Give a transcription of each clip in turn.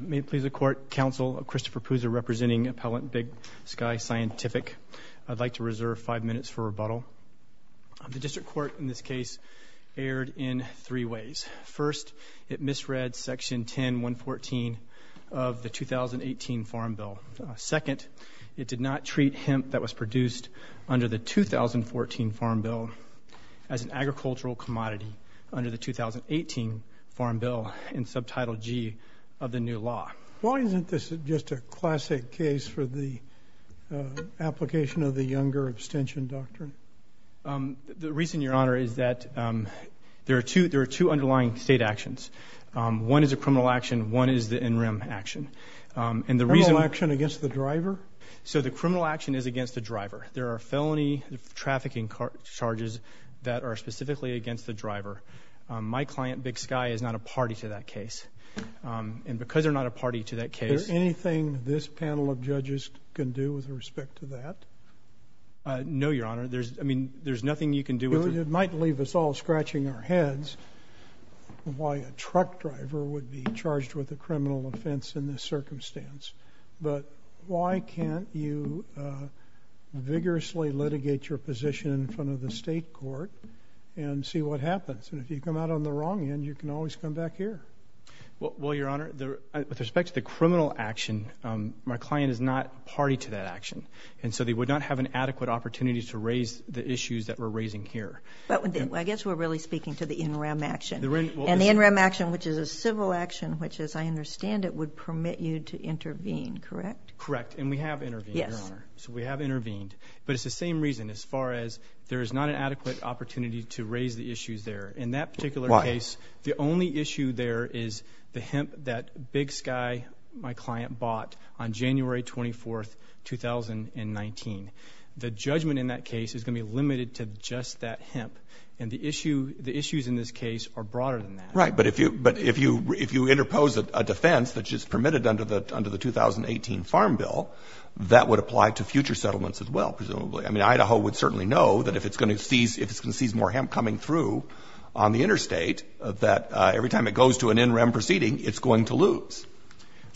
May it please the Court, Counsel Christopher Puza representing Appellant Big Sky Scientific. I'd like to reserve five minutes for rebuttal. The District Court in this case erred in three ways. First, it misread section 10-114 of the 2018 Farm Bill. Second, it did not treat hemp that was produced under the 2014 Farm Bill as an agricultural commodity under the 2018 Farm Bill in subtitle G of the new law. Why isn't this just a classic case for the application of the Younger Abstention Doctrine? The reason, Your Honor, is that there are two underlying state actions. One is a criminal action. One is the NREM action. The criminal action is against the driver. There are felony trafficking charges that are specifically against the driver. My client, Big Sky, is not a party to that case. Because they're not a party to that case— Is there anything this panel of judges can do with respect to that? No, Your Honor. There's nothing you can do with it. It might leave us all scratching our heads why a truck driver would be charged with a crime in that circumstance. But why can't you vigorously litigate your position in front of the state court and see what happens? And if you come out on the wrong end, you can always come back here. Well, Your Honor, with respect to the criminal action, my client is not a party to that action. And so they would not have an adequate opportunity to raise the issues that we're raising here. I guess we're really speaking to the NREM action. And the NREM action, which is a civil action, which as I understand it, would permit you to intervene, correct? Correct. And we have intervened, Your Honor. So we have intervened. But it's the same reason as far as there is not an adequate opportunity to raise the issues there. In that particular case, the only issue there is the hemp that Big Sky, my client, bought on January 24, 2019. The judgment in that case is going to be limited to just that hemp. And the issues in this case are broader than that. Right. But if you interpose a defense that's just permitted under the 2018 Farm Bill, that would apply to future settlements as well, presumably. I mean, Idaho would certainly know that if it's going to seize more hemp coming through on the interstate, that every time it goes to an NREM proceeding, it's going to lose.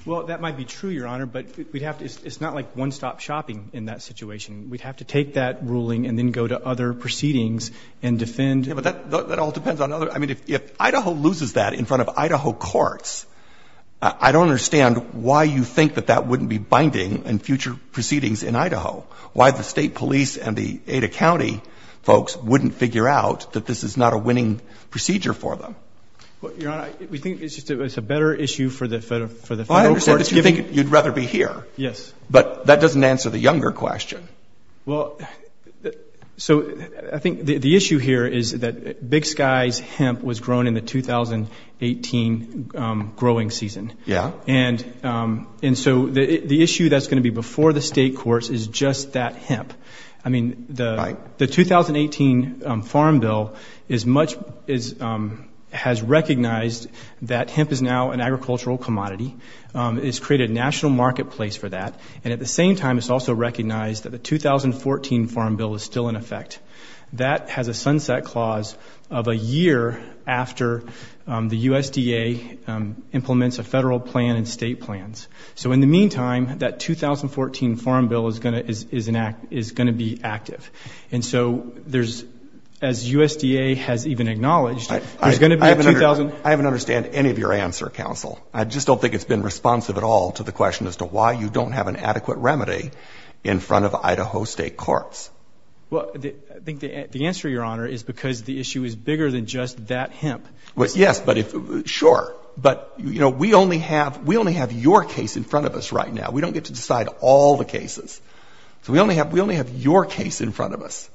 Well, that might be true, Your Honor. But it's not like one-stop shopping in that situation. We'd have to take that ruling and then go to other proceedings and defend. Yeah, but that all depends on other — I mean, if Idaho loses that in front of Idaho courts, I don't understand why you think that that wouldn't be binding in future proceedings in Idaho, why the state police and the Ada County folks wouldn't figure out that this is not a winning procedure for them. Well, Your Honor, we think it's just a better issue for the federal courts, given — Well, I understand that you think you'd rather be here. Yes. But that doesn't answer the younger question. Well, so I think the issue here is that Big Sky's hemp was grown in the 2018 growing season. Yeah. And so the issue that's going to be before the state courts is just that hemp. I mean, the 2018 Farm Bill is much — has recognized that hemp is now an agricultural commodity. It's created a national marketplace for that. And at the same time, it's also recognized that the 2014 Farm Bill is still in effect. That has a sunset clause of a year after the USDA implements a federal plan and state plans. So in the meantime, that 2014 Farm Bill is going to be active. And so there's — as USDA has even acknowledged, there's going to be a — I haven't understood any of your answer, counsel. I just don't think it's been responsive at all to the question as to why you don't have an adequate remedy in front of Idaho state courts. Well, I think the answer, Your Honor, is because the issue is bigger than just that hemp. Yes, but if — sure. But you know, we only have — we only have your case in front of us right now. We don't get to decide all the cases. So we only have — we only have your case in front of us.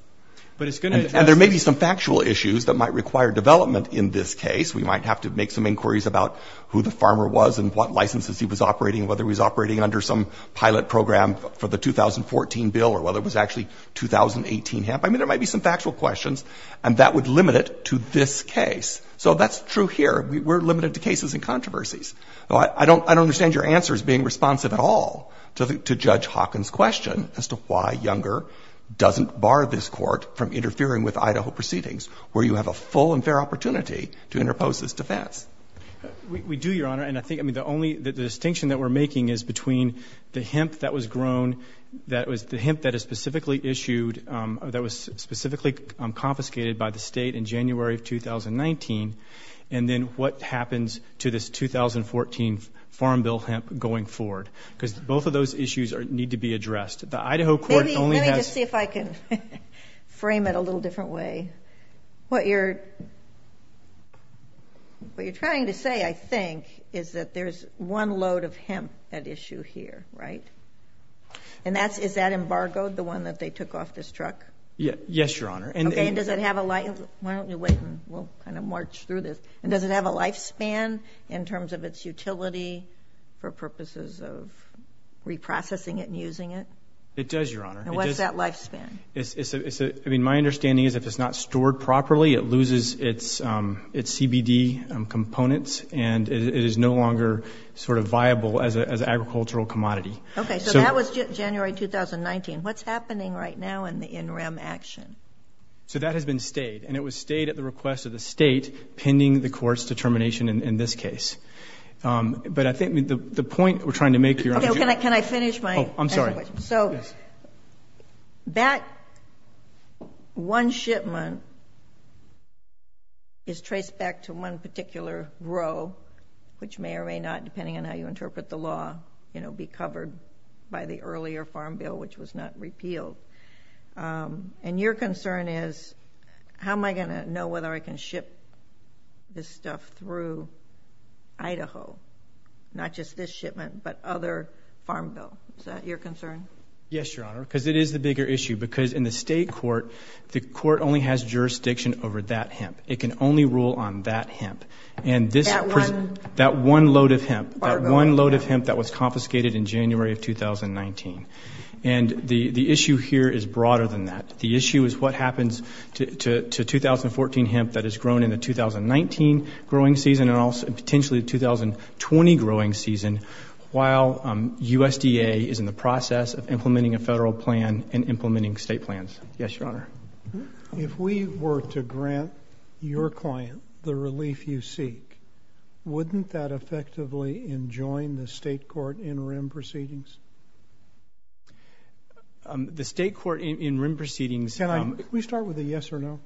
But it's going to — And there may be some factual issues that might require development in this case. We might have to make some inquiries about who the farmer was and what licenses he was operating, whether he was operating under some pilot program for the 2014 bill or whether it was actually 2018 hemp. I mean, there might be some factual questions, and that would limit it to this case. So that's true here. We're limited to cases and controversies. I don't understand your answers being responsive at all to Judge Hawkins' question as to why Younger doesn't bar this court from interfering with Idaho proceedings where you have a full and fair opportunity to interpose this defense. We do, Your Honor. And I think — I mean, the only — the distinction that we're making is between the hemp that was grown, that was — the hemp that is specifically issued — that was specifically confiscated by the state in January of 2019, and then what happens to this 2014 Farm Bill hemp going forward. Because both of those issues need to be addressed. The Idaho court only has — Maybe — let me just see if I can frame it a little different way. What you're — what you're trying to say, I think, is that there's one load of hemp at issue here, right? And that's — is that embargoed, the one that they took off this truck? Yes, Your Honor. And — Okay. And does it have a — why don't we wait and we'll kind of march through this. And does it have a lifespan in terms of its utility for purposes of reprocessing it and using it? It does, Your Honor. It does. And what's that lifespan? It's — I mean, my understanding is if it's not stored properly, it loses its CBD components and it is no longer sort of viable as an agricultural commodity. Okay. So that was January 2019. What's happening right now in the in-rem action? So that has been stayed. And it was stayed at the request of the state pending the court's determination in this case. But I think the point we're trying to make here — Okay. Can I finish my — Oh, I'm sorry. Yes. But that one shipment is traced back to one particular row, which may or may not, depending on how you interpret the law, you know, be covered by the earlier farm bill, which was not repealed. And your concern is, how am I going to know whether I can ship this stuff through Idaho? Not just this shipment, but other farm bill. Is that your concern? Yes, Your Honor. Because it is the bigger issue. Because in the state court, the court only has jurisdiction over that hemp. It can only rule on that hemp. And this — That one? That one load of hemp. That one load of hemp that was confiscated in January of 2019. And the issue here is broader than that. The issue is what happens to 2014 hemp that has grown in the 2019 growing season and also potentially the 2020 growing season while USDA is in the process of implementing a federal plan and implementing state plans. Yes, Your Honor. If we were to grant your client the relief you seek, wouldn't that effectively enjoin the state court in rim proceedings? The state court in rim proceedings — Can I — Can we start with a yes or no?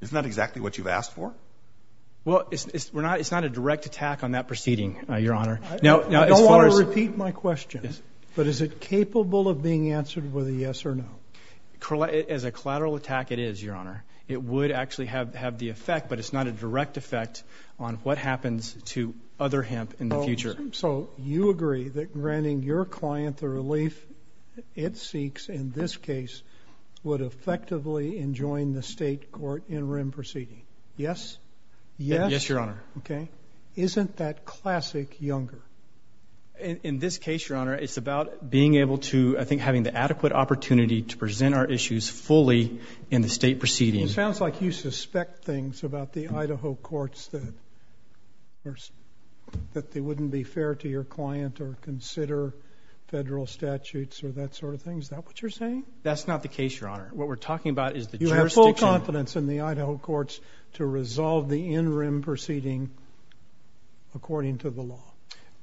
Isn't that exactly what you've asked for? Well, it's not a direct attack on that proceeding, Your Honor. I don't want to repeat my question. But is it capable of being answered with a yes or no? As a collateral attack, it is, Your Honor. It would actually have the effect, but it's not a direct effect on what happens to other hemp in the future. So you agree that granting your client the relief it seeks in this case would effectively enjoin the state court in rim proceeding? Yes? Yes, Your Honor. Okay. Isn't that classic Younger? In this case, Your Honor, it's about being able to, I think, having the adequate opportunity to present our issues fully in the state proceedings. It sounds like you suspect things about the Idaho courts that they wouldn't be fair to your client or consider federal statutes or that sort of thing. Is that what you're saying? That's not the case, Your Honor. What we're talking about is the jurisdiction — to resolve the in-rim proceeding according to the law.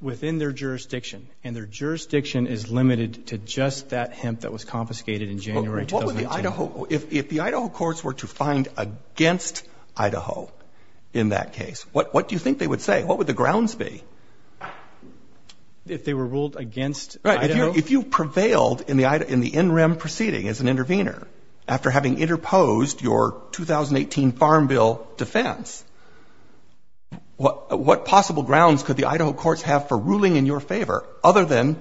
Within their jurisdiction. And their jurisdiction is limited to just that hemp that was confiscated in January 2018. What would the Idaho — if the Idaho courts were to find against Idaho in that case, what do you think they would say? What would the grounds be? If they were ruled against Idaho? If you prevailed in the in-rim proceeding as an intervener, after having interposed your 2018 Farm Bill defense, what possible grounds could the Idaho courts have for ruling in your favor, other than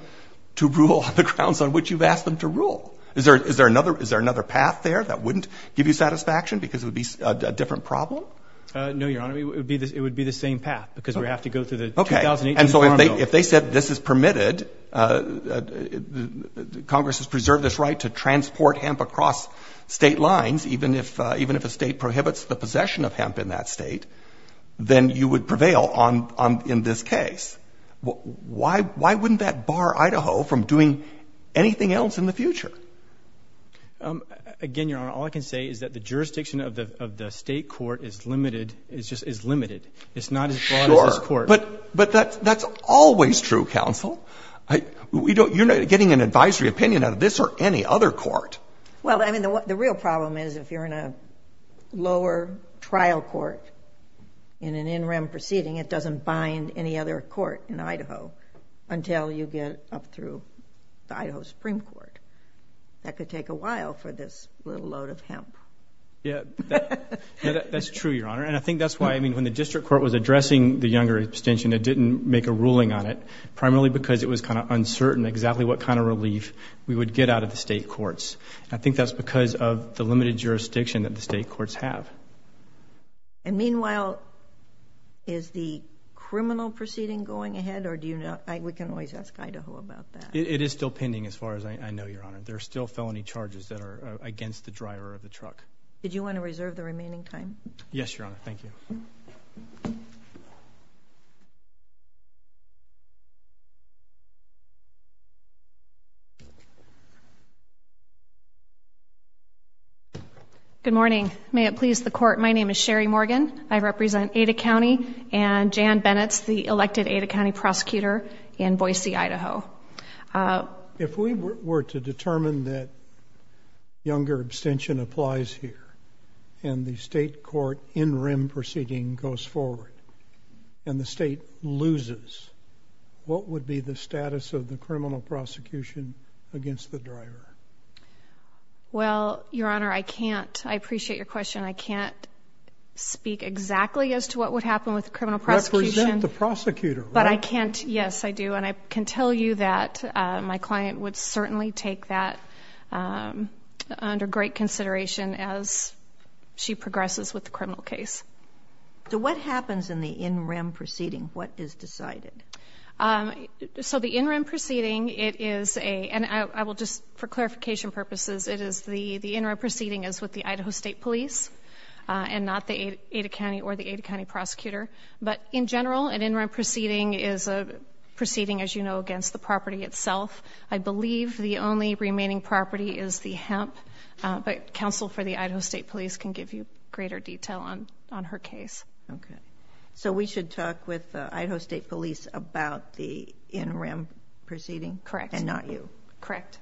to rule on the grounds on which you've asked them to rule? Is there another — is there another path there that wouldn't give you satisfaction because it would be a different problem? No, Your Honor. It would be the same path because we have to go through the 2018 Farm Bill. Okay. And so if they said this is permitted, Congress has preserved this right to transport hemp across State lines, even if — even if a State prohibits the possession of hemp in that State, then you would prevail on — in this case. Why wouldn't that bar Idaho from doing anything else in the future? Again, Your Honor, all I can say is that the jurisdiction of the State court is limited — is limited. It's not as broad as this court. Sure. But that's always true, counsel. I — we don't — you're not getting an advisory opinion out of this or any other court. Well, I mean, the real problem is if you're in a lower trial court in an in-rem proceeding, it doesn't bind any other court in Idaho until you get up through the Idaho Supreme Court. That could take a while for this little load of hemp. Yeah. That's true, Your Honor, and I think that's why, I mean, when the district court was addressing the younger abstention, it didn't make a ruling on it, primarily because it was kind of uncertain exactly what kind of relief we would get out of the State courts. I think that's because of the limited jurisdiction that the State courts have. And meanwhile, is the criminal proceeding going ahead, or do you not — we can always ask Idaho about that. It is still pending as far as I know, Your Honor. There are still felony charges that are against the driver of the truck. Did you want to reserve the remaining time? Yes, Your Honor. Thank you. May it please the Court. Good morning. May it please the Court. My name is Sherry Morgan. I represent Ada County and Jan Bennett's the elected Ada County prosecutor in Boise, Idaho. If we were to determine that younger abstention applies here, and the State court in-rem proceeding goes forward, and the State loses, what would be the status of the criminal prosecution against the driver? Well, Your Honor, I can't, I appreciate your question, I can't speak exactly as to what would happen with the criminal prosecution. Represent the prosecutor, right? But I can't, yes I do, and I can tell you that my client would certainly take that under great consideration as she progresses with the criminal case. So what happens in the in-rem proceeding? What is decided? So the in-rem proceeding, it is a, and I will just, for clarification purposes, it is the in-rem proceeding is with the Idaho State Police, and not the Ada County or the Ada County prosecutor. But in general, an in-rem proceeding is a proceeding, as you know, against the property itself. I believe the only remaining property is the hemp, but counsel for the Idaho State Police can give you greater detail on her case. Okay. So we should talk with Idaho State Police about the in-rem proceeding? Correct. And not you? Correct.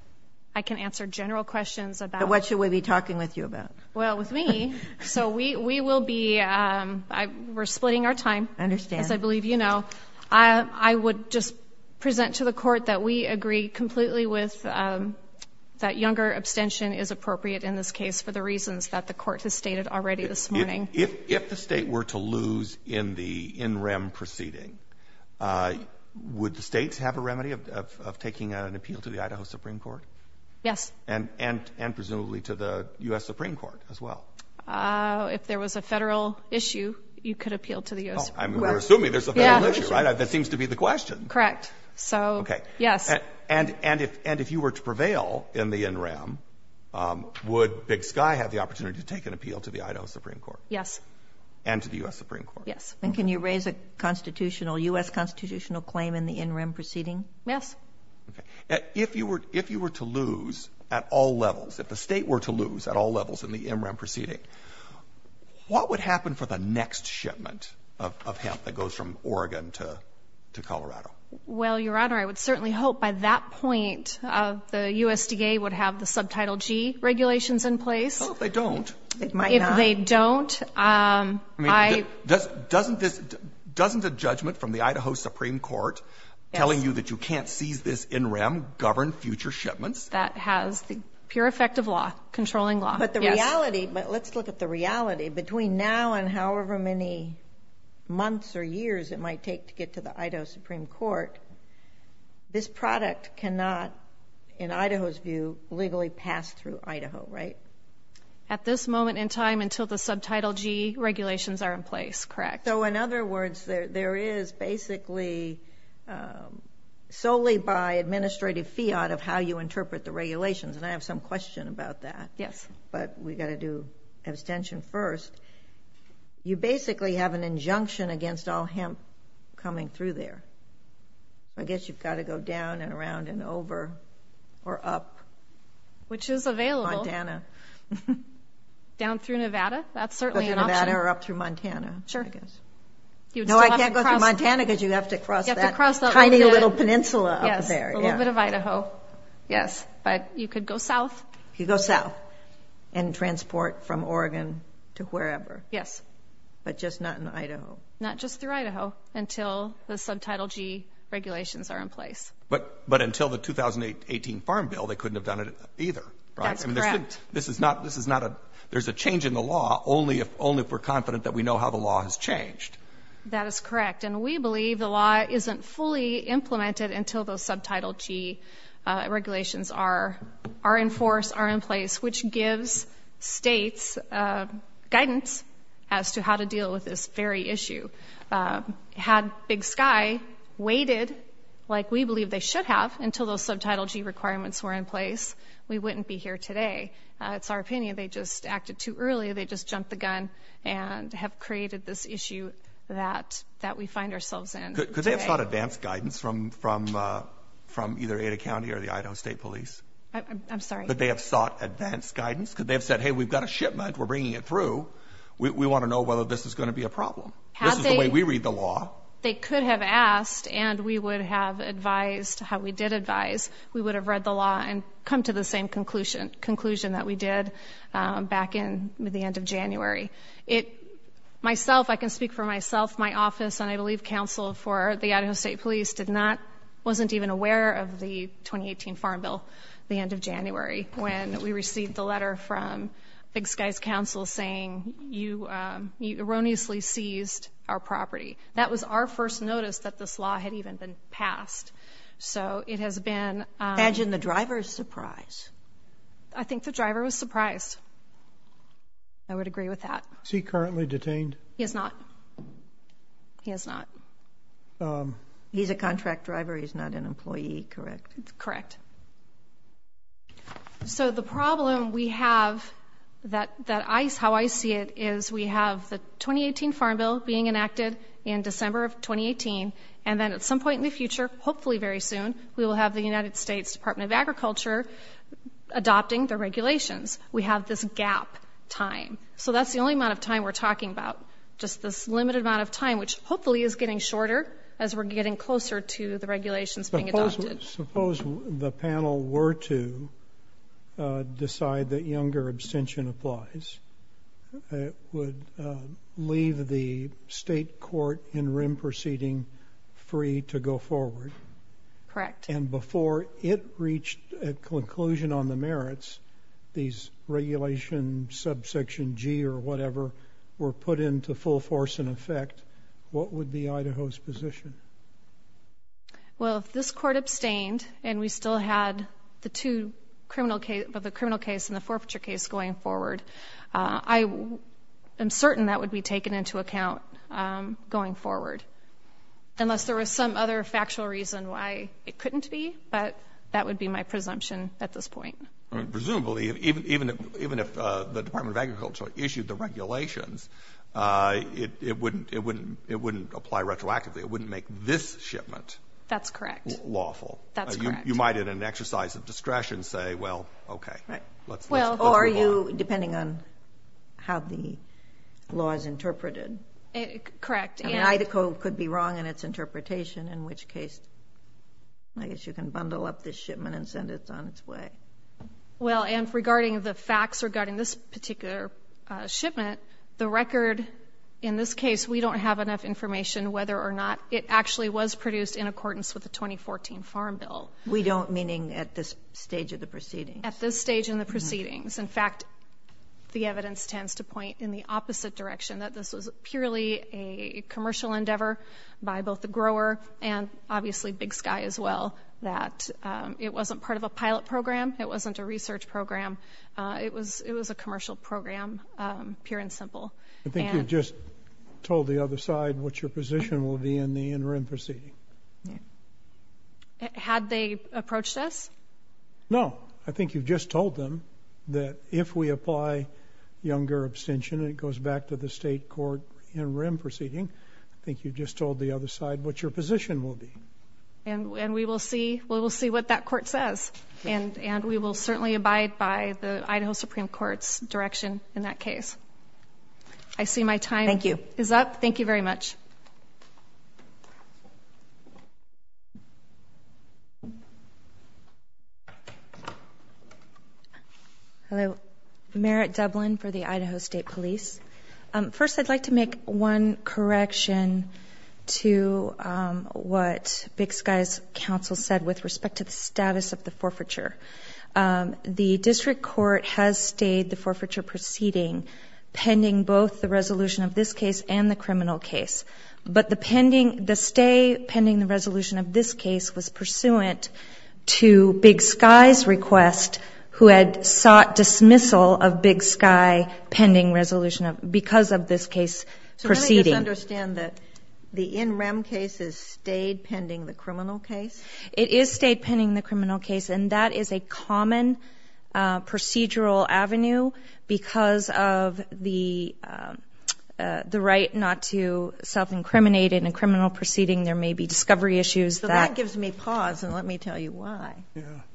I can answer general questions about... But what should we be talking with you about? Well, with me, so we will be, we're splitting our time, as I believe you know. I would just present to the court that we agree completely with that younger abstention is appropriate in this case for the reasons that the court has stated already this morning. If the state were to lose in the in-rem proceeding, would the states have a remedy of taking an appeal to the Idaho Supreme Court? Yes. And presumably to the U.S. Supreme Court as well? If there was a federal issue, you could appeal to the U.S. Supreme Court. I mean, we're assuming there's a federal issue, right? That seems to be the question. Correct. So, yes. Okay. And if you were to prevail in the in-rem, would Big Sky have the opportunity to take an appeal to the Idaho Supreme Court? Yes. And to the U.S. Supreme Court? Yes. And can you raise a U.S. constitutional claim in the in-rem proceeding? Yes. Okay. If you were to lose at all levels, if the state were to lose at all levels in the in-rem proceeding, what would happen for the next shipment of hemp that goes from Oregon to Colorado? Well, Your Honor, I would certainly hope by that point the USDA would have the Subtitle G regulations in place. Well, if they don't. It might not. If they don't, I — I mean, doesn't this — doesn't the judgment from the Idaho Supreme Court telling you that you can't seize this in-rem govern future shipments? That has the pure effect of law, controlling law. Yes. But the reality — but let's look at the reality. Between now and however many months or years it might take to get to the Idaho Supreme Court, this product cannot, in Idaho's view, legally pass through Idaho, right? At this moment in time, until the Subtitle G regulations are in place, correct? So in other words, there is basically solely by administrative fiat of how you interpret the regulations. And I have some question about that. Yes. But we've got to do abstention first. You basically have an injunction against all hemp coming through there. I guess you've got to go down and around and over or up. Which is available. Montana. Down through Nevada? That's certainly an option. Through Nevada or up through Montana, I guess. Sure. You'd still have to cross — No, I can't go through Montana because you'd have to cross that tiny little peninsula up there. Yes, a little bit of Idaho. Yes. But you could go south. You could go south and transport from Oregon to wherever. Yes. But just not in Idaho. Not just through Idaho until the Subtitle G regulations are in place. But until the 2018 Farm Bill, they couldn't have done it either, right? That's correct. I mean, this is not — there's a change in the law only if we're confident that we know how the law has changed. That is correct. And we believe the law isn't fully implemented until those Subtitle G regulations are in force, are in place, which gives states guidance as to how to deal with this very issue. Had Big Sky waited like we believe they should have until those Subtitle G requirements were in place, we wouldn't be here today. It's our opinion. They just acted too early. They just jumped the gun and have created this issue that we find ourselves in today. Could they have sought advance guidance from either Ada County or the Idaho State Police? I'm sorry? Could they have sought advance guidance? Could they have said, hey, we've got a shipment. We're bringing it through. We want to know whether this is going to be a problem. This is the way we read the law. They could have asked, and we would have advised how we did advise. I can speak for myself. My office and, I believe, counsel for the Idaho State Police wasn't even aware of the 2018 Farm Bill, the end of January, when we received the letter from Big Sky's counsel saying you erroneously seized our property. That was our first notice that this law had even been passed. So it has been... Imagine the driver's surprise. I think the driver was surprised. I would agree with that. Is he currently detained? He is not. He is not. He's a contract driver. He's not an employee, correct? Correct. So the problem we have, how I see it, is we have the 2018 Farm Bill being enacted in December of 2018, and then at some point in the future, hopefully very soon, we will have the United Adopting the regulations. We have this gap time. So that's the only amount of time we're talking about. Just this limited amount of time, which hopefully is getting shorter as we're getting closer to the regulations being adopted. Suppose the panel were to decide that younger abstention applies, it would leave the state court in rim proceeding free to go forward. Correct. And before it reached a conclusion on the merits, these regulations, subsection G or whatever, were put into full force and effect, what would be Idaho's position? Well, if this court abstained and we still had the two criminal cases, the criminal case and the forfeiture case going forward, I am certain that would be taken into account going that would be my presumption at this point. Presumably, even if the Department of Agriculture issued the regulations, it wouldn't apply retroactively. It wouldn't make this shipment lawful. That's correct. That's correct. You might, in an exercise of discretion, say, well, okay, let's move on. Or you, depending on how the law is interpreted, Idaho could be wrong in its interpretation, in which case I guess you can bundle up this shipment and send it on its way. Well, and regarding the facts regarding this particular shipment, the record in this case, we don't have enough information whether or not it actually was produced in accordance with the 2014 Farm Bill. We don't, meaning at this stage of the proceedings? At this stage in the proceedings. In fact, the evidence tends to point in the opposite direction, that this was purely a And obviously Big Sky as well, that it wasn't part of a pilot program. It wasn't a research program. It was a commercial program, pure and simple. I think you've just told the other side what your position will be in the interim proceeding. Had they approached us? No. I think you've just told them that if we apply Younger abstention, it goes back to the state court interim proceeding. I think you've just told the other side what your position will be. And we will see what that court says. And we will certainly abide by the Idaho Supreme Court's direction in that case. I see my time is up. Thank you very much. Hello. Merritt Dublin for the Idaho State Police. First, I'd like to make one correction to what Big Sky's counsel said with respect to the status of the forfeiture. The district court has stayed the forfeiture proceeding pending both the resolution of this case and the criminal case. But the stay pending the resolution of this case was pursuant to Big Sky's request who had sought dismissal of Big Sky pending resolution because of this case proceeding. So let me just understand that the in-rem case has stayed pending the criminal case? It is stayed pending the criminal case. And that is a common procedural avenue because of the right not to self-incriminate in a criminal proceeding. There may be discovery issues. So that gives me pause, and let me tell you why.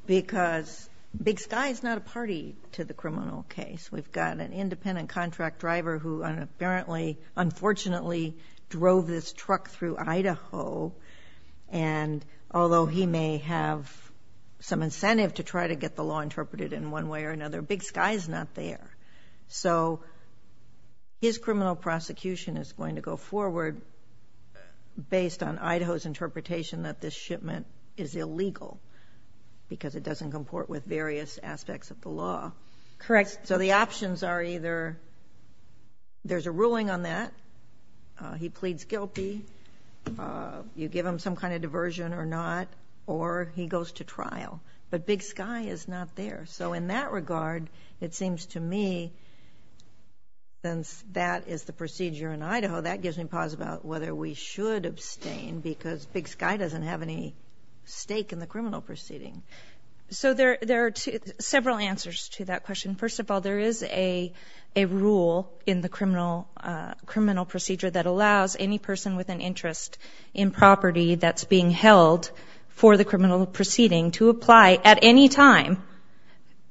Because Big Sky is not a party to the criminal case. We've got an independent contract driver who apparently, unfortunately, drove this truck through Idaho. And although he may have some incentive to try to get the law interpreted in one way or another, Big Sky is not there. So his criminal prosecution is going to go forward based on Idaho's interpretation that this shipment is illegal because it doesn't comport with various aspects of the law. Correct. So the options are either there's a ruling on that, he pleads guilty, you give him some kind of diversion or not, or he goes to trial. But Big Sky is not there. So in that regard, it seems to me, since that is the procedure in Idaho, that gives me pause about whether we should abstain because Big Sky doesn't have any stake in the criminal proceeding. So there are several answers to that question. First of all, there is a rule in the criminal procedure that allows any person with an interest in property that's being held for the criminal proceeding to apply at any time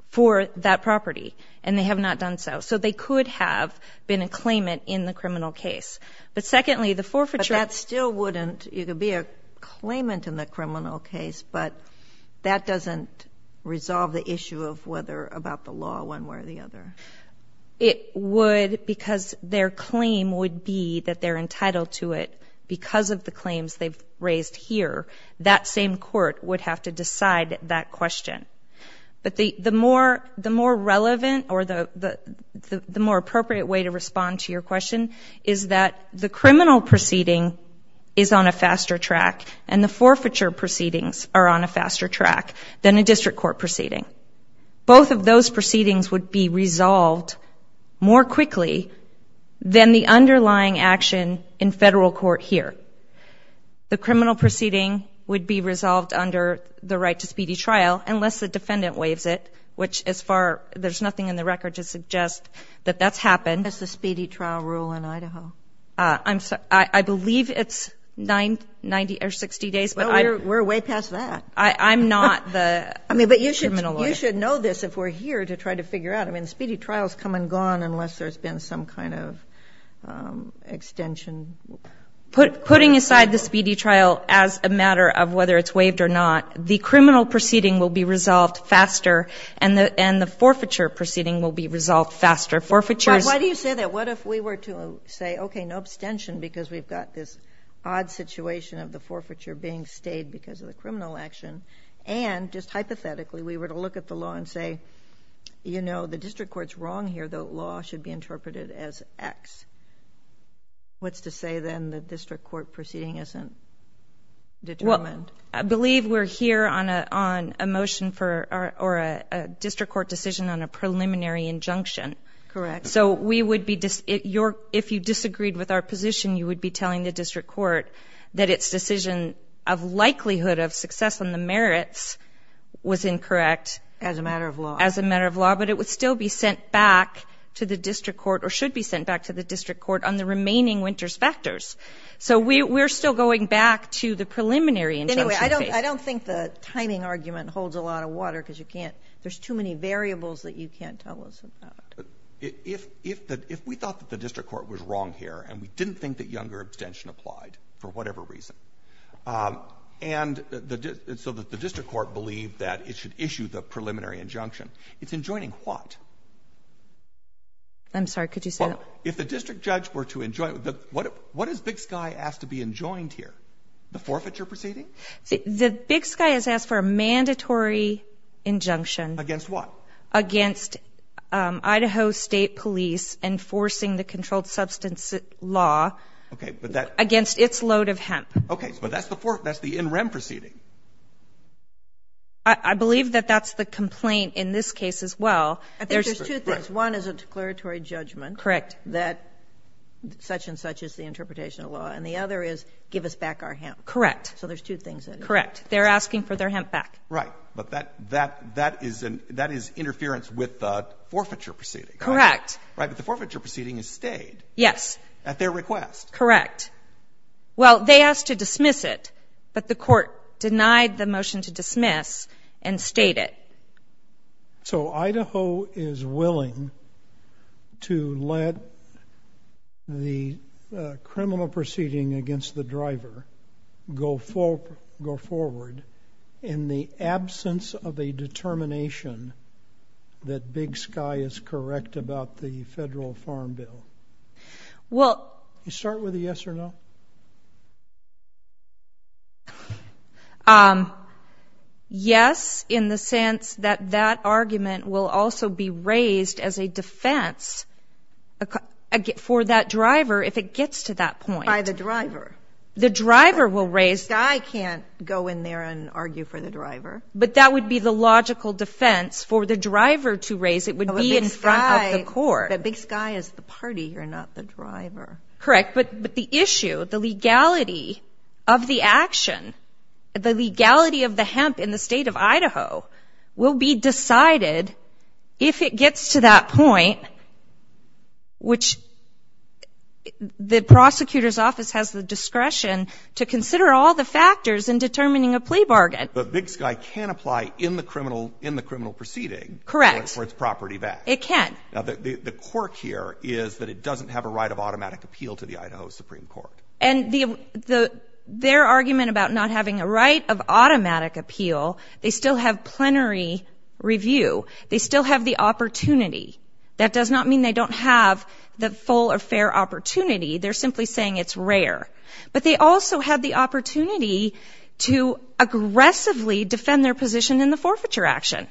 for that property, and they have not done so. So they could have been a claimant in the criminal case. But secondly, the forfeiture... But that still wouldn't... You could be a claimant in the criminal case, but that doesn't resolve the issue of whether about the law one way or the other. It would because their claim would be that they're entitled to it because of the claims they've raised here. That same court would have to decide that question. But the more relevant or the more appropriate way to respond to your question is that the criminal proceeding is on a faster track and the forfeiture proceedings are on a faster track than a district court proceeding. Both of those proceedings would be resolved more quickly than the underlying action in federal court here. The criminal proceeding would be resolved under the right to speedy trial unless the defendant waives it, which as far... There's nothing in the record to suggest that that's happened. That's the speedy trial rule in Idaho. I believe it's 90 or 60 days, but I... We're way past that. I'm not the... I mean, but you should know this if we're here to try to figure out. I mean, speedy trials come and gone unless there's been some kind of extension. Putting aside the speedy trial as a matter of whether it's waived or not, the criminal proceeding will be resolved faster and the forfeiture proceeding will be resolved faster. Forfeiture is... But why do you say that? What if we were to say, okay, no abstention because we've got this odd situation of the forfeiture being stayed because of the criminal action and just hypothetically we were to look at the law and say, you know, the district court's wrong here. The law should be interpreted as X. What's to say then the district court proceeding isn't determined? I believe we're here on a motion for... Or a district court decision on a preliminary injunction. Correct. So we would be... If you disagreed with our position, you would be telling the district court that its decision of likelihood of success on the merits was incorrect. As a matter of law. As a matter of law, but it would still be sent back to the district court or should be sent back to the district court on the remaining Winters factors. So we're still going back to the preliminary injunction case. Anyway, I don't think the timing argument holds a lot of water because you can't... There's too many variables that you can't tell us about. If we thought that the district court was wrong here and we didn't think that younger abstention applied for whatever reason, and so that the district court believed that it should issue the preliminary injunction, it's enjoining what? I'm sorry, could you say that? If the district judge were to enjoin... What is Big Sky asked to be enjoined here? The forfeiture proceeding? The Big Sky has asked for a mandatory injunction. Against what? Against Idaho State Police enforcing the controlled substance law against its load of hemp. Okay. But that's the in rem proceeding. I believe that that's the complaint in this case as well. I think there's two things. One is a declaratory judgment that such-and-such is the interpretation of law, and the other is give us back our hemp. Correct. So there's two things. Correct. They're asking for their hemp back. Right. But that is interference with the forfeiture proceeding. Correct. Right. But the forfeiture proceeding is stayed. Yes. At their request. Correct. Well, they asked to dismiss it, but the court denied the motion to dismiss and stayed it. So Idaho is willing to let the criminal proceeding against the driver go forward in the absence of a determination that Big Sky is correct about the federal farm bill? Well... Can you start with a yes or no? Yes. In the sense that that argument will also be raised as a defense for that driver if it gets to that point. By the driver. The driver will raise... Big Sky can't go in there and argue for the driver. But that would be the logical defense for the driver to raise. It would be in front of the court. But Big Sky is the party. You're not the driver. Correct. But the issue, the legality of the action, the legality of the hemp in the state of Idaho will be decided if it gets to that point, which the prosecutor's office has the discretion to consider all the factors in determining a plea bargain. But Big Sky can apply in the criminal proceeding for its property back. Correct. It can. The quirk here is that it doesn't have a right of automatic appeal to the Idaho Supreme Court. And their argument about not having a right of automatic appeal, they still have plenary review. They still have the opportunity. That does not mean they don't have the full or fair opportunity. They're simply saying it's rare. But they also have the opportunity to aggressively defend their position in the forfeiture action.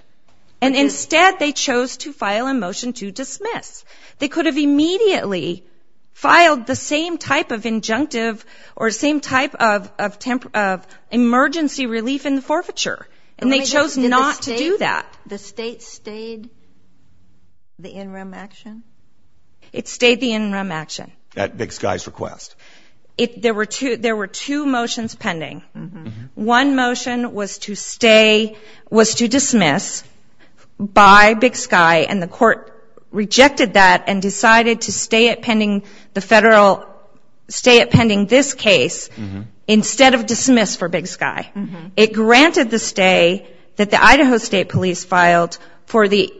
And instead, they chose to file a motion to dismiss. They could have immediately filed the same type of injunctive or same type of emergency relief in the forfeiture. And they chose not to do that. The state stayed the in-rem action? It stayed the in-rem action. At Big Sky's request. There were two motions pending. One motion was to stay, was to dismiss by Big Sky, and the court rejected that and decided to stay it pending the federal, stay it pending this case instead of dismiss for Big Sky. It granted the stay that the Idaho State Police filed for the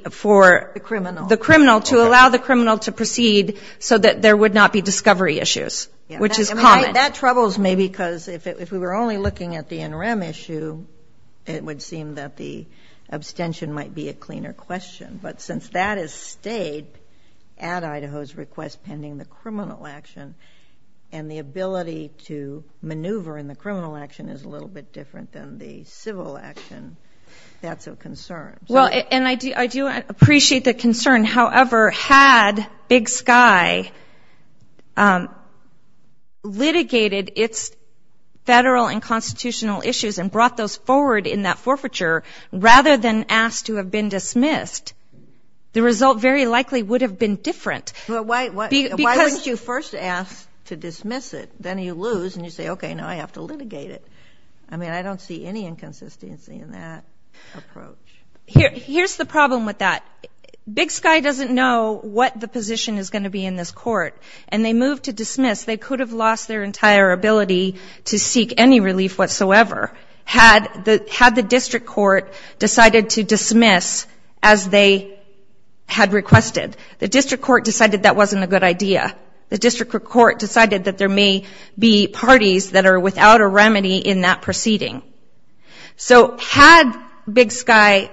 criminal to allow the criminal to proceed so that there would not be discovery issues, which is common. That troubles me because if we were only looking at the in-rem issue, it would seem that the abstention might be a cleaner question. But since that has stayed at Idaho's request pending the criminal action, and the ability to maneuver in the criminal action is a little bit different than the civil action, that's a concern. Well, and I do appreciate the concern. However, had Big Sky litigated its federal and constitutional issues and brought those forward in that forfeiture rather than asked to have been dismissed, the result very likely would have been different. But why wouldn't you first ask to dismiss it, then you lose and you say, okay, now I have to litigate it. I mean, I don't see any inconsistency in that approach. Here's the problem with that. Big Sky doesn't know what the position is going to be in this court, and they moved to dismiss. They could have lost their entire ability to seek any relief whatsoever had the district court decided to dismiss as they had requested. The district court decided that wasn't a good idea. The district court decided that there may be parties that are without a remedy in that proceeding. So had Big Sky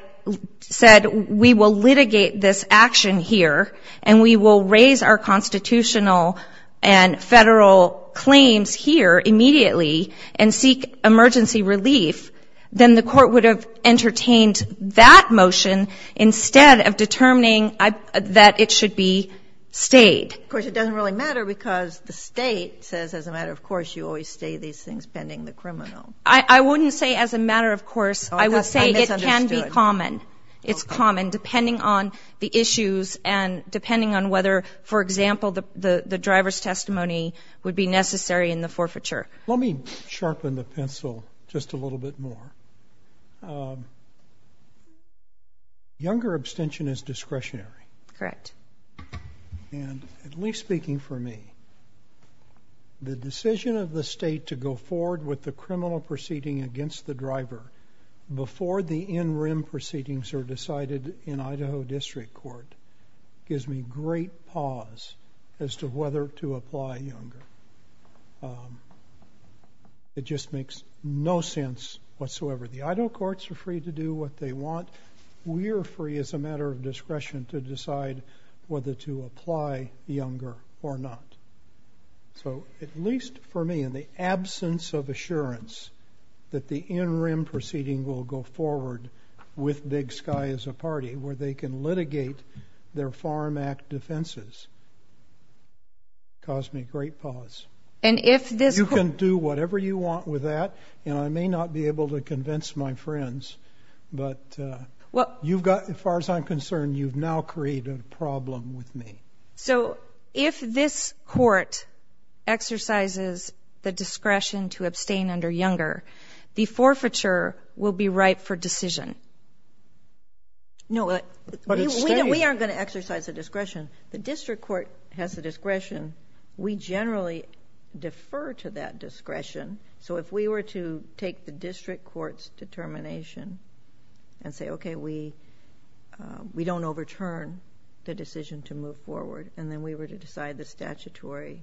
said, we will litigate this action here, and we will raise our constitutional and federal claims here immediately and seek emergency relief, then the court would have entertained that motion instead of determining that it should be stayed. Of course, it doesn't really matter because the state says, as a matter of course, you always stay these things pending the criminal. I wouldn't say as a matter of course. I would say it can be common. It's common, depending on the issues and depending on whether, for example, the driver's testimony would be necessary in the forfeiture. Let me sharpen the pencil just a little bit more. Younger abstention is discretionary. Correct. And at least speaking for me, the decision of the state to go forward with the criminal proceeding against the driver before the in-rim proceedings are decided in Idaho District Court gives me great pause as to whether to apply Younger. It just makes no sense whatsoever. The Idaho courts are free to do what they want. We're free as a matter of discretion to decide whether to apply Younger or not. So at least for me, in the absence of assurance that the in-rim proceeding will go forward with Big Sky as a party where they can litigate their Farm Act defenses caused me great pause. And if this- You can do whatever you want with that. I may not be able to convince my friends, but as far as I'm concerned, you've now created a problem with me. So if this court exercises the discretion to abstain under Younger, the forfeiture will be ripe for decision. No, we aren't going to exercise the discretion. The district court has the discretion. We generally defer to that discretion. So if we were to take the district court's determination and say, okay, we don't overturn the decision to move forward, and then we were to decide the statutory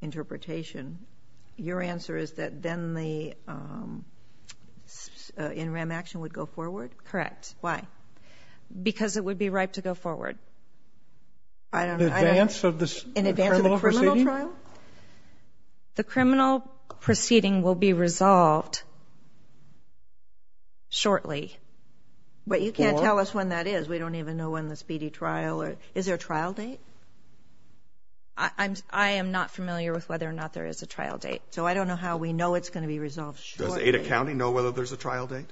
interpretation, your answer is that then the in-rim action would go forward? Correct. Why? Because it would be ripe to go forward. I don't know. In advance of the criminal proceeding? Is there a trial? The criminal proceeding will be resolved shortly. But you can't tell us when that is. We don't even know when the speedy trial or- Is there a trial date? I am not familiar with whether or not there is a trial date. So I don't know how we know it's going to be resolved shortly. Does Ada County know whether there's a trial date?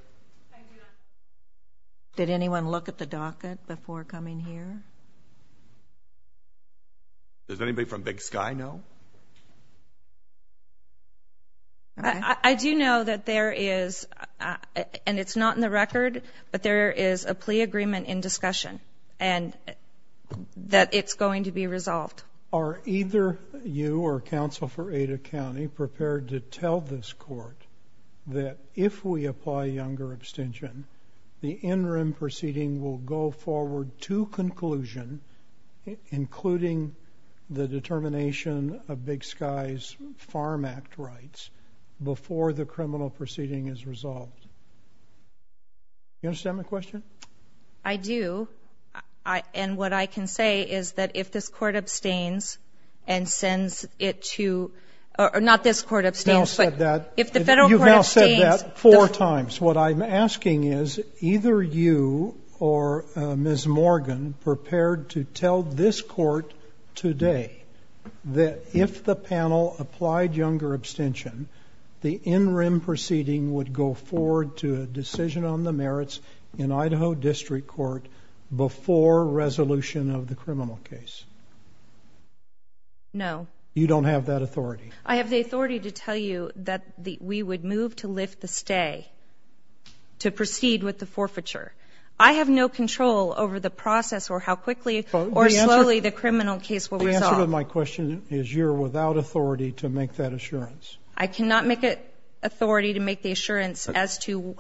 Did anyone look at the docket before coming here? Does anybody from Big Sky know? I do know that there is, and it's not in the record, but there is a plea agreement in discussion and that it's going to be resolved. Are either you or counsel for Ada County prepared to tell this court that if we apply younger abstention, the in-rim proceeding will go forward to conclusion, including the determination of Big Sky's Farm Act rights, before the criminal proceeding is resolved? Do you understand my question? I do. And what I can say is that if this court abstains and sends it to- not this court abstains- You've now said that- If the federal court abstains- What I'm asking is, either you or Ms. Morgan prepared to tell this court today that if the panel applied younger abstention, the in-rim proceeding would go forward to a decision on the merits in Idaho District Court before resolution of the criminal case? No. You don't have that authority? I have the authority to tell you that we would move to lift the stay to proceed with the forfeiture. I have no control over the process or how quickly or slowly the criminal case will resolve. The answer to my question is you're without authority to make that assurance. I cannot make authority to make the assurance as to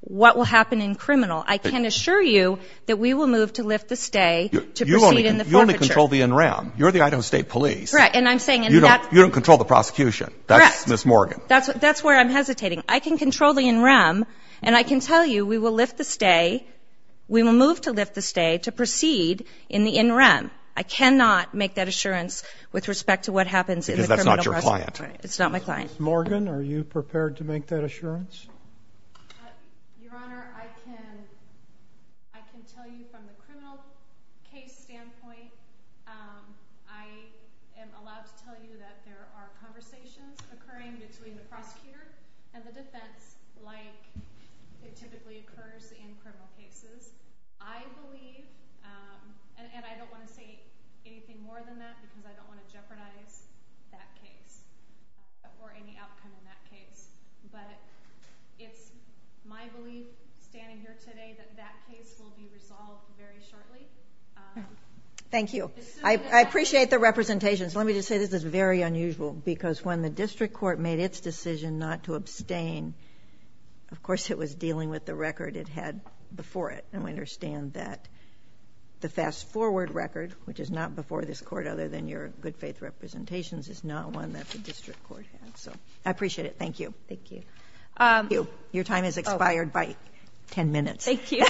what will happen in criminal. I can assure you that we will move to lift the stay to proceed in the forfeiture. You only control the in-rim. You're the Idaho State Police. Correct. And I'm saying- You don't control the prosecution. Correct. That's Ms. Morgan. That's where I'm hesitating. I can control the in-rim and I can tell you we will lift the stay- we will move to lift the stay to proceed in the in-rim. I cannot make that assurance with respect to what happens in the criminal process. Because that's not your client. It's not my client. Ms. Morgan, are you prepared to make that assurance? Your Honor, I can tell you from the criminal case standpoint, I am allowed to tell you that there are conversations occurring between the prosecutor and the defense like it typically occurs in criminal cases. I believe, and I don't want to say anything more than that because I don't want to jeopardize that case or any outcome in that case. But it's my belief standing here today that that case will be resolved very shortly. Thank you. I appreciate the representations. Let me just say this is very unusual because when the district court made its decision not to abstain, of course it was dealing with the record it had before it. And we understand that the fast-forward record, which is not before this court other than your good faith representations, is not one that the district court has. I appreciate it. Thank you. Thank you. Your time has expired by 10 minutes. Thank you.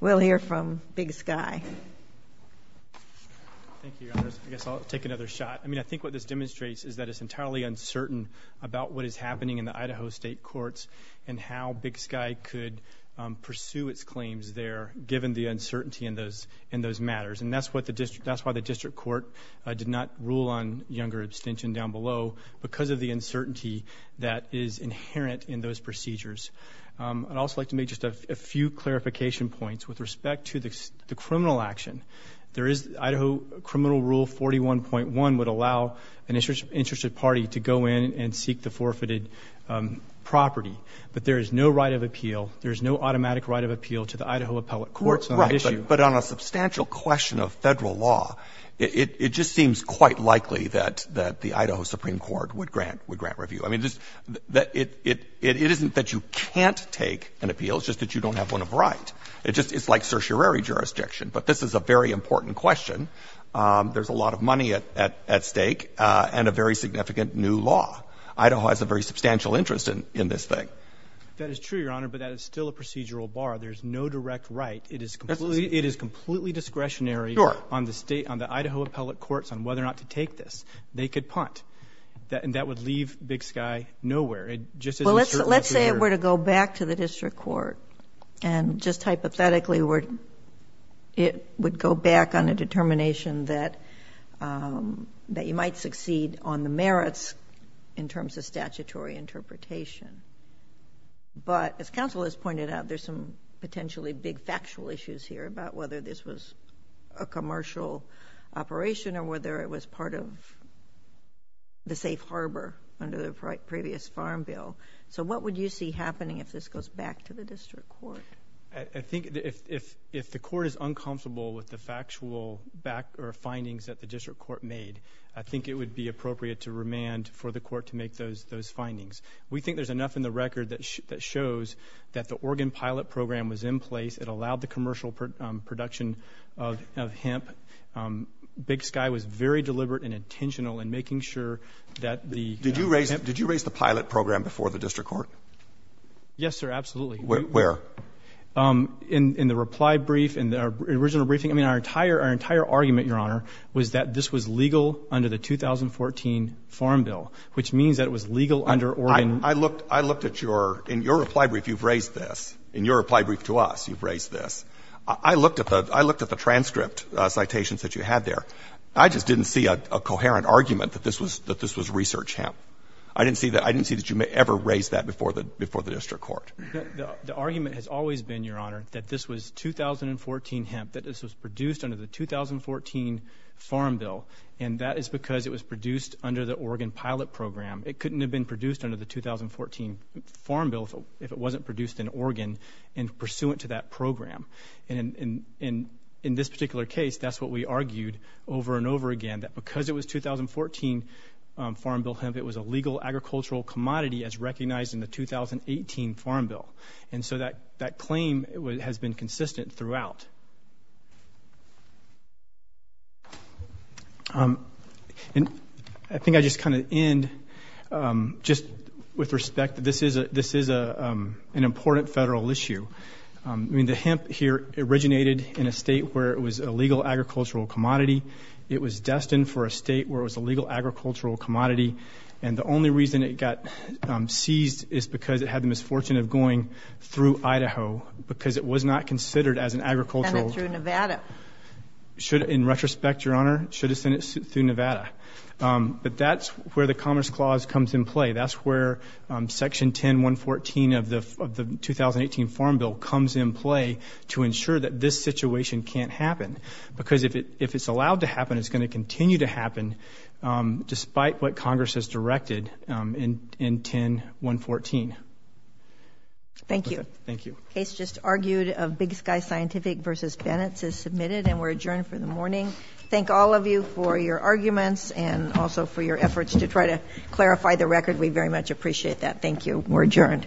We'll hear from Big Sky. Thank you, Your Honor. I guess I'll take another shot. I mean, I think what this demonstrates is that it's entirely uncertain about what is happening in the Idaho state courts and how Big Sky could pursue its claims there given the uncertainty in those matters. And that's why the district court did not rule on younger abstention down below because of the uncertainty that is inherent in those procedures. I'd also like to make just a few clarification points with respect to the criminal action. Idaho criminal rule 41.1 would allow an interested party to go in and seek the forfeited property. But there is no right of appeal. There is no automatic right of appeal to the Idaho appellate courts on that issue. But on a substantial question of Federal law, it just seems quite likely that the Idaho Supreme Court would grant review. I mean, it isn't that you can't take an appeal. It's just that you don't have one of a right. It's like certiorari jurisdiction. But this is a very important question. There's a lot of money at stake and a very significant new law. Idaho has a very substantial interest in this thing. That is true, Your Honor, but that is still a procedural bar. There's no direct right. It is completely discretionary on the Idaho appellate courts on whether or not to take this. They could punt. That would leave Big Sky nowhere. Let's say it were to go back to the district court and just hypothetically it would go back on a determination that you might succeed on the merits in terms of statutory interpretation. But as counsel has pointed out, there's some potentially big factual issues here about whether this was a commercial operation or whether it was part of the safe harbor under the previous Farm Bill. So what would you see happening if this goes back to the district court? I think if the court is uncomfortable with the factual findings that the district court made, I think it would be appropriate to remand for the court to make those findings. We think there's enough in the record that shows that the Oregon pilot program was in place. It allowed the commercial production of hemp. Big Sky was very deliberate and intentional in making sure that the hemp Did you raise the pilot program before the district court? Yes, sir, absolutely. Where? In the reply brief, in the original briefing. I mean, our entire argument, Your Honor, was that this was legal under the 2014 Farm Bill, which means that it was legal under Oregon. I looked at your — in your reply brief, you've raised this. In your reply brief to us, you've raised this. I looked at the transcript citations that you had there. I just didn't see a coherent argument that this was research hemp. I didn't see that you ever raised that before the district court. The argument has always been, Your Honor, that this was 2014 hemp, that this was produced under the 2014 Farm Bill, and that is because it was produced under the Oregon pilot program. It couldn't have been produced under the 2014 Farm Bill if it wasn't produced in Oregon and pursuant to that program. And in this particular case, that's what we argued over and over again, that because it was 2014 Farm Bill hemp, it was a legal agricultural commodity as recognized in the 2018 Farm Bill. And so that claim has been consistent throughout. And I think I just kind of end just with respect that this is an important federal issue. I mean, the hemp here originated in a state where it was a legal agricultural commodity. It was destined for a state where it was a legal agricultural commodity. And the only reason it got seized is because it had the misfortune of going through Idaho because it was not considered as an agricultural. Sent it through Nevada. In retrospect, Your Honor, it should have sent it through Nevada. But that's where the Commerce Clause comes in play. That's where Section 10-114 of the 2018 Farm Bill comes in play to ensure that this situation can't happen. Because if it's allowed to happen, it's going to continue to happen despite what Congress has directed in 10-114. Thank you. The case just argued of Big Sky Scientific v. Bennetts is submitted and we're adjourned for the morning. Thank all of you for your arguments and also for your efforts to try to clarify the record. We very much appreciate that. Thank you. We're adjourned.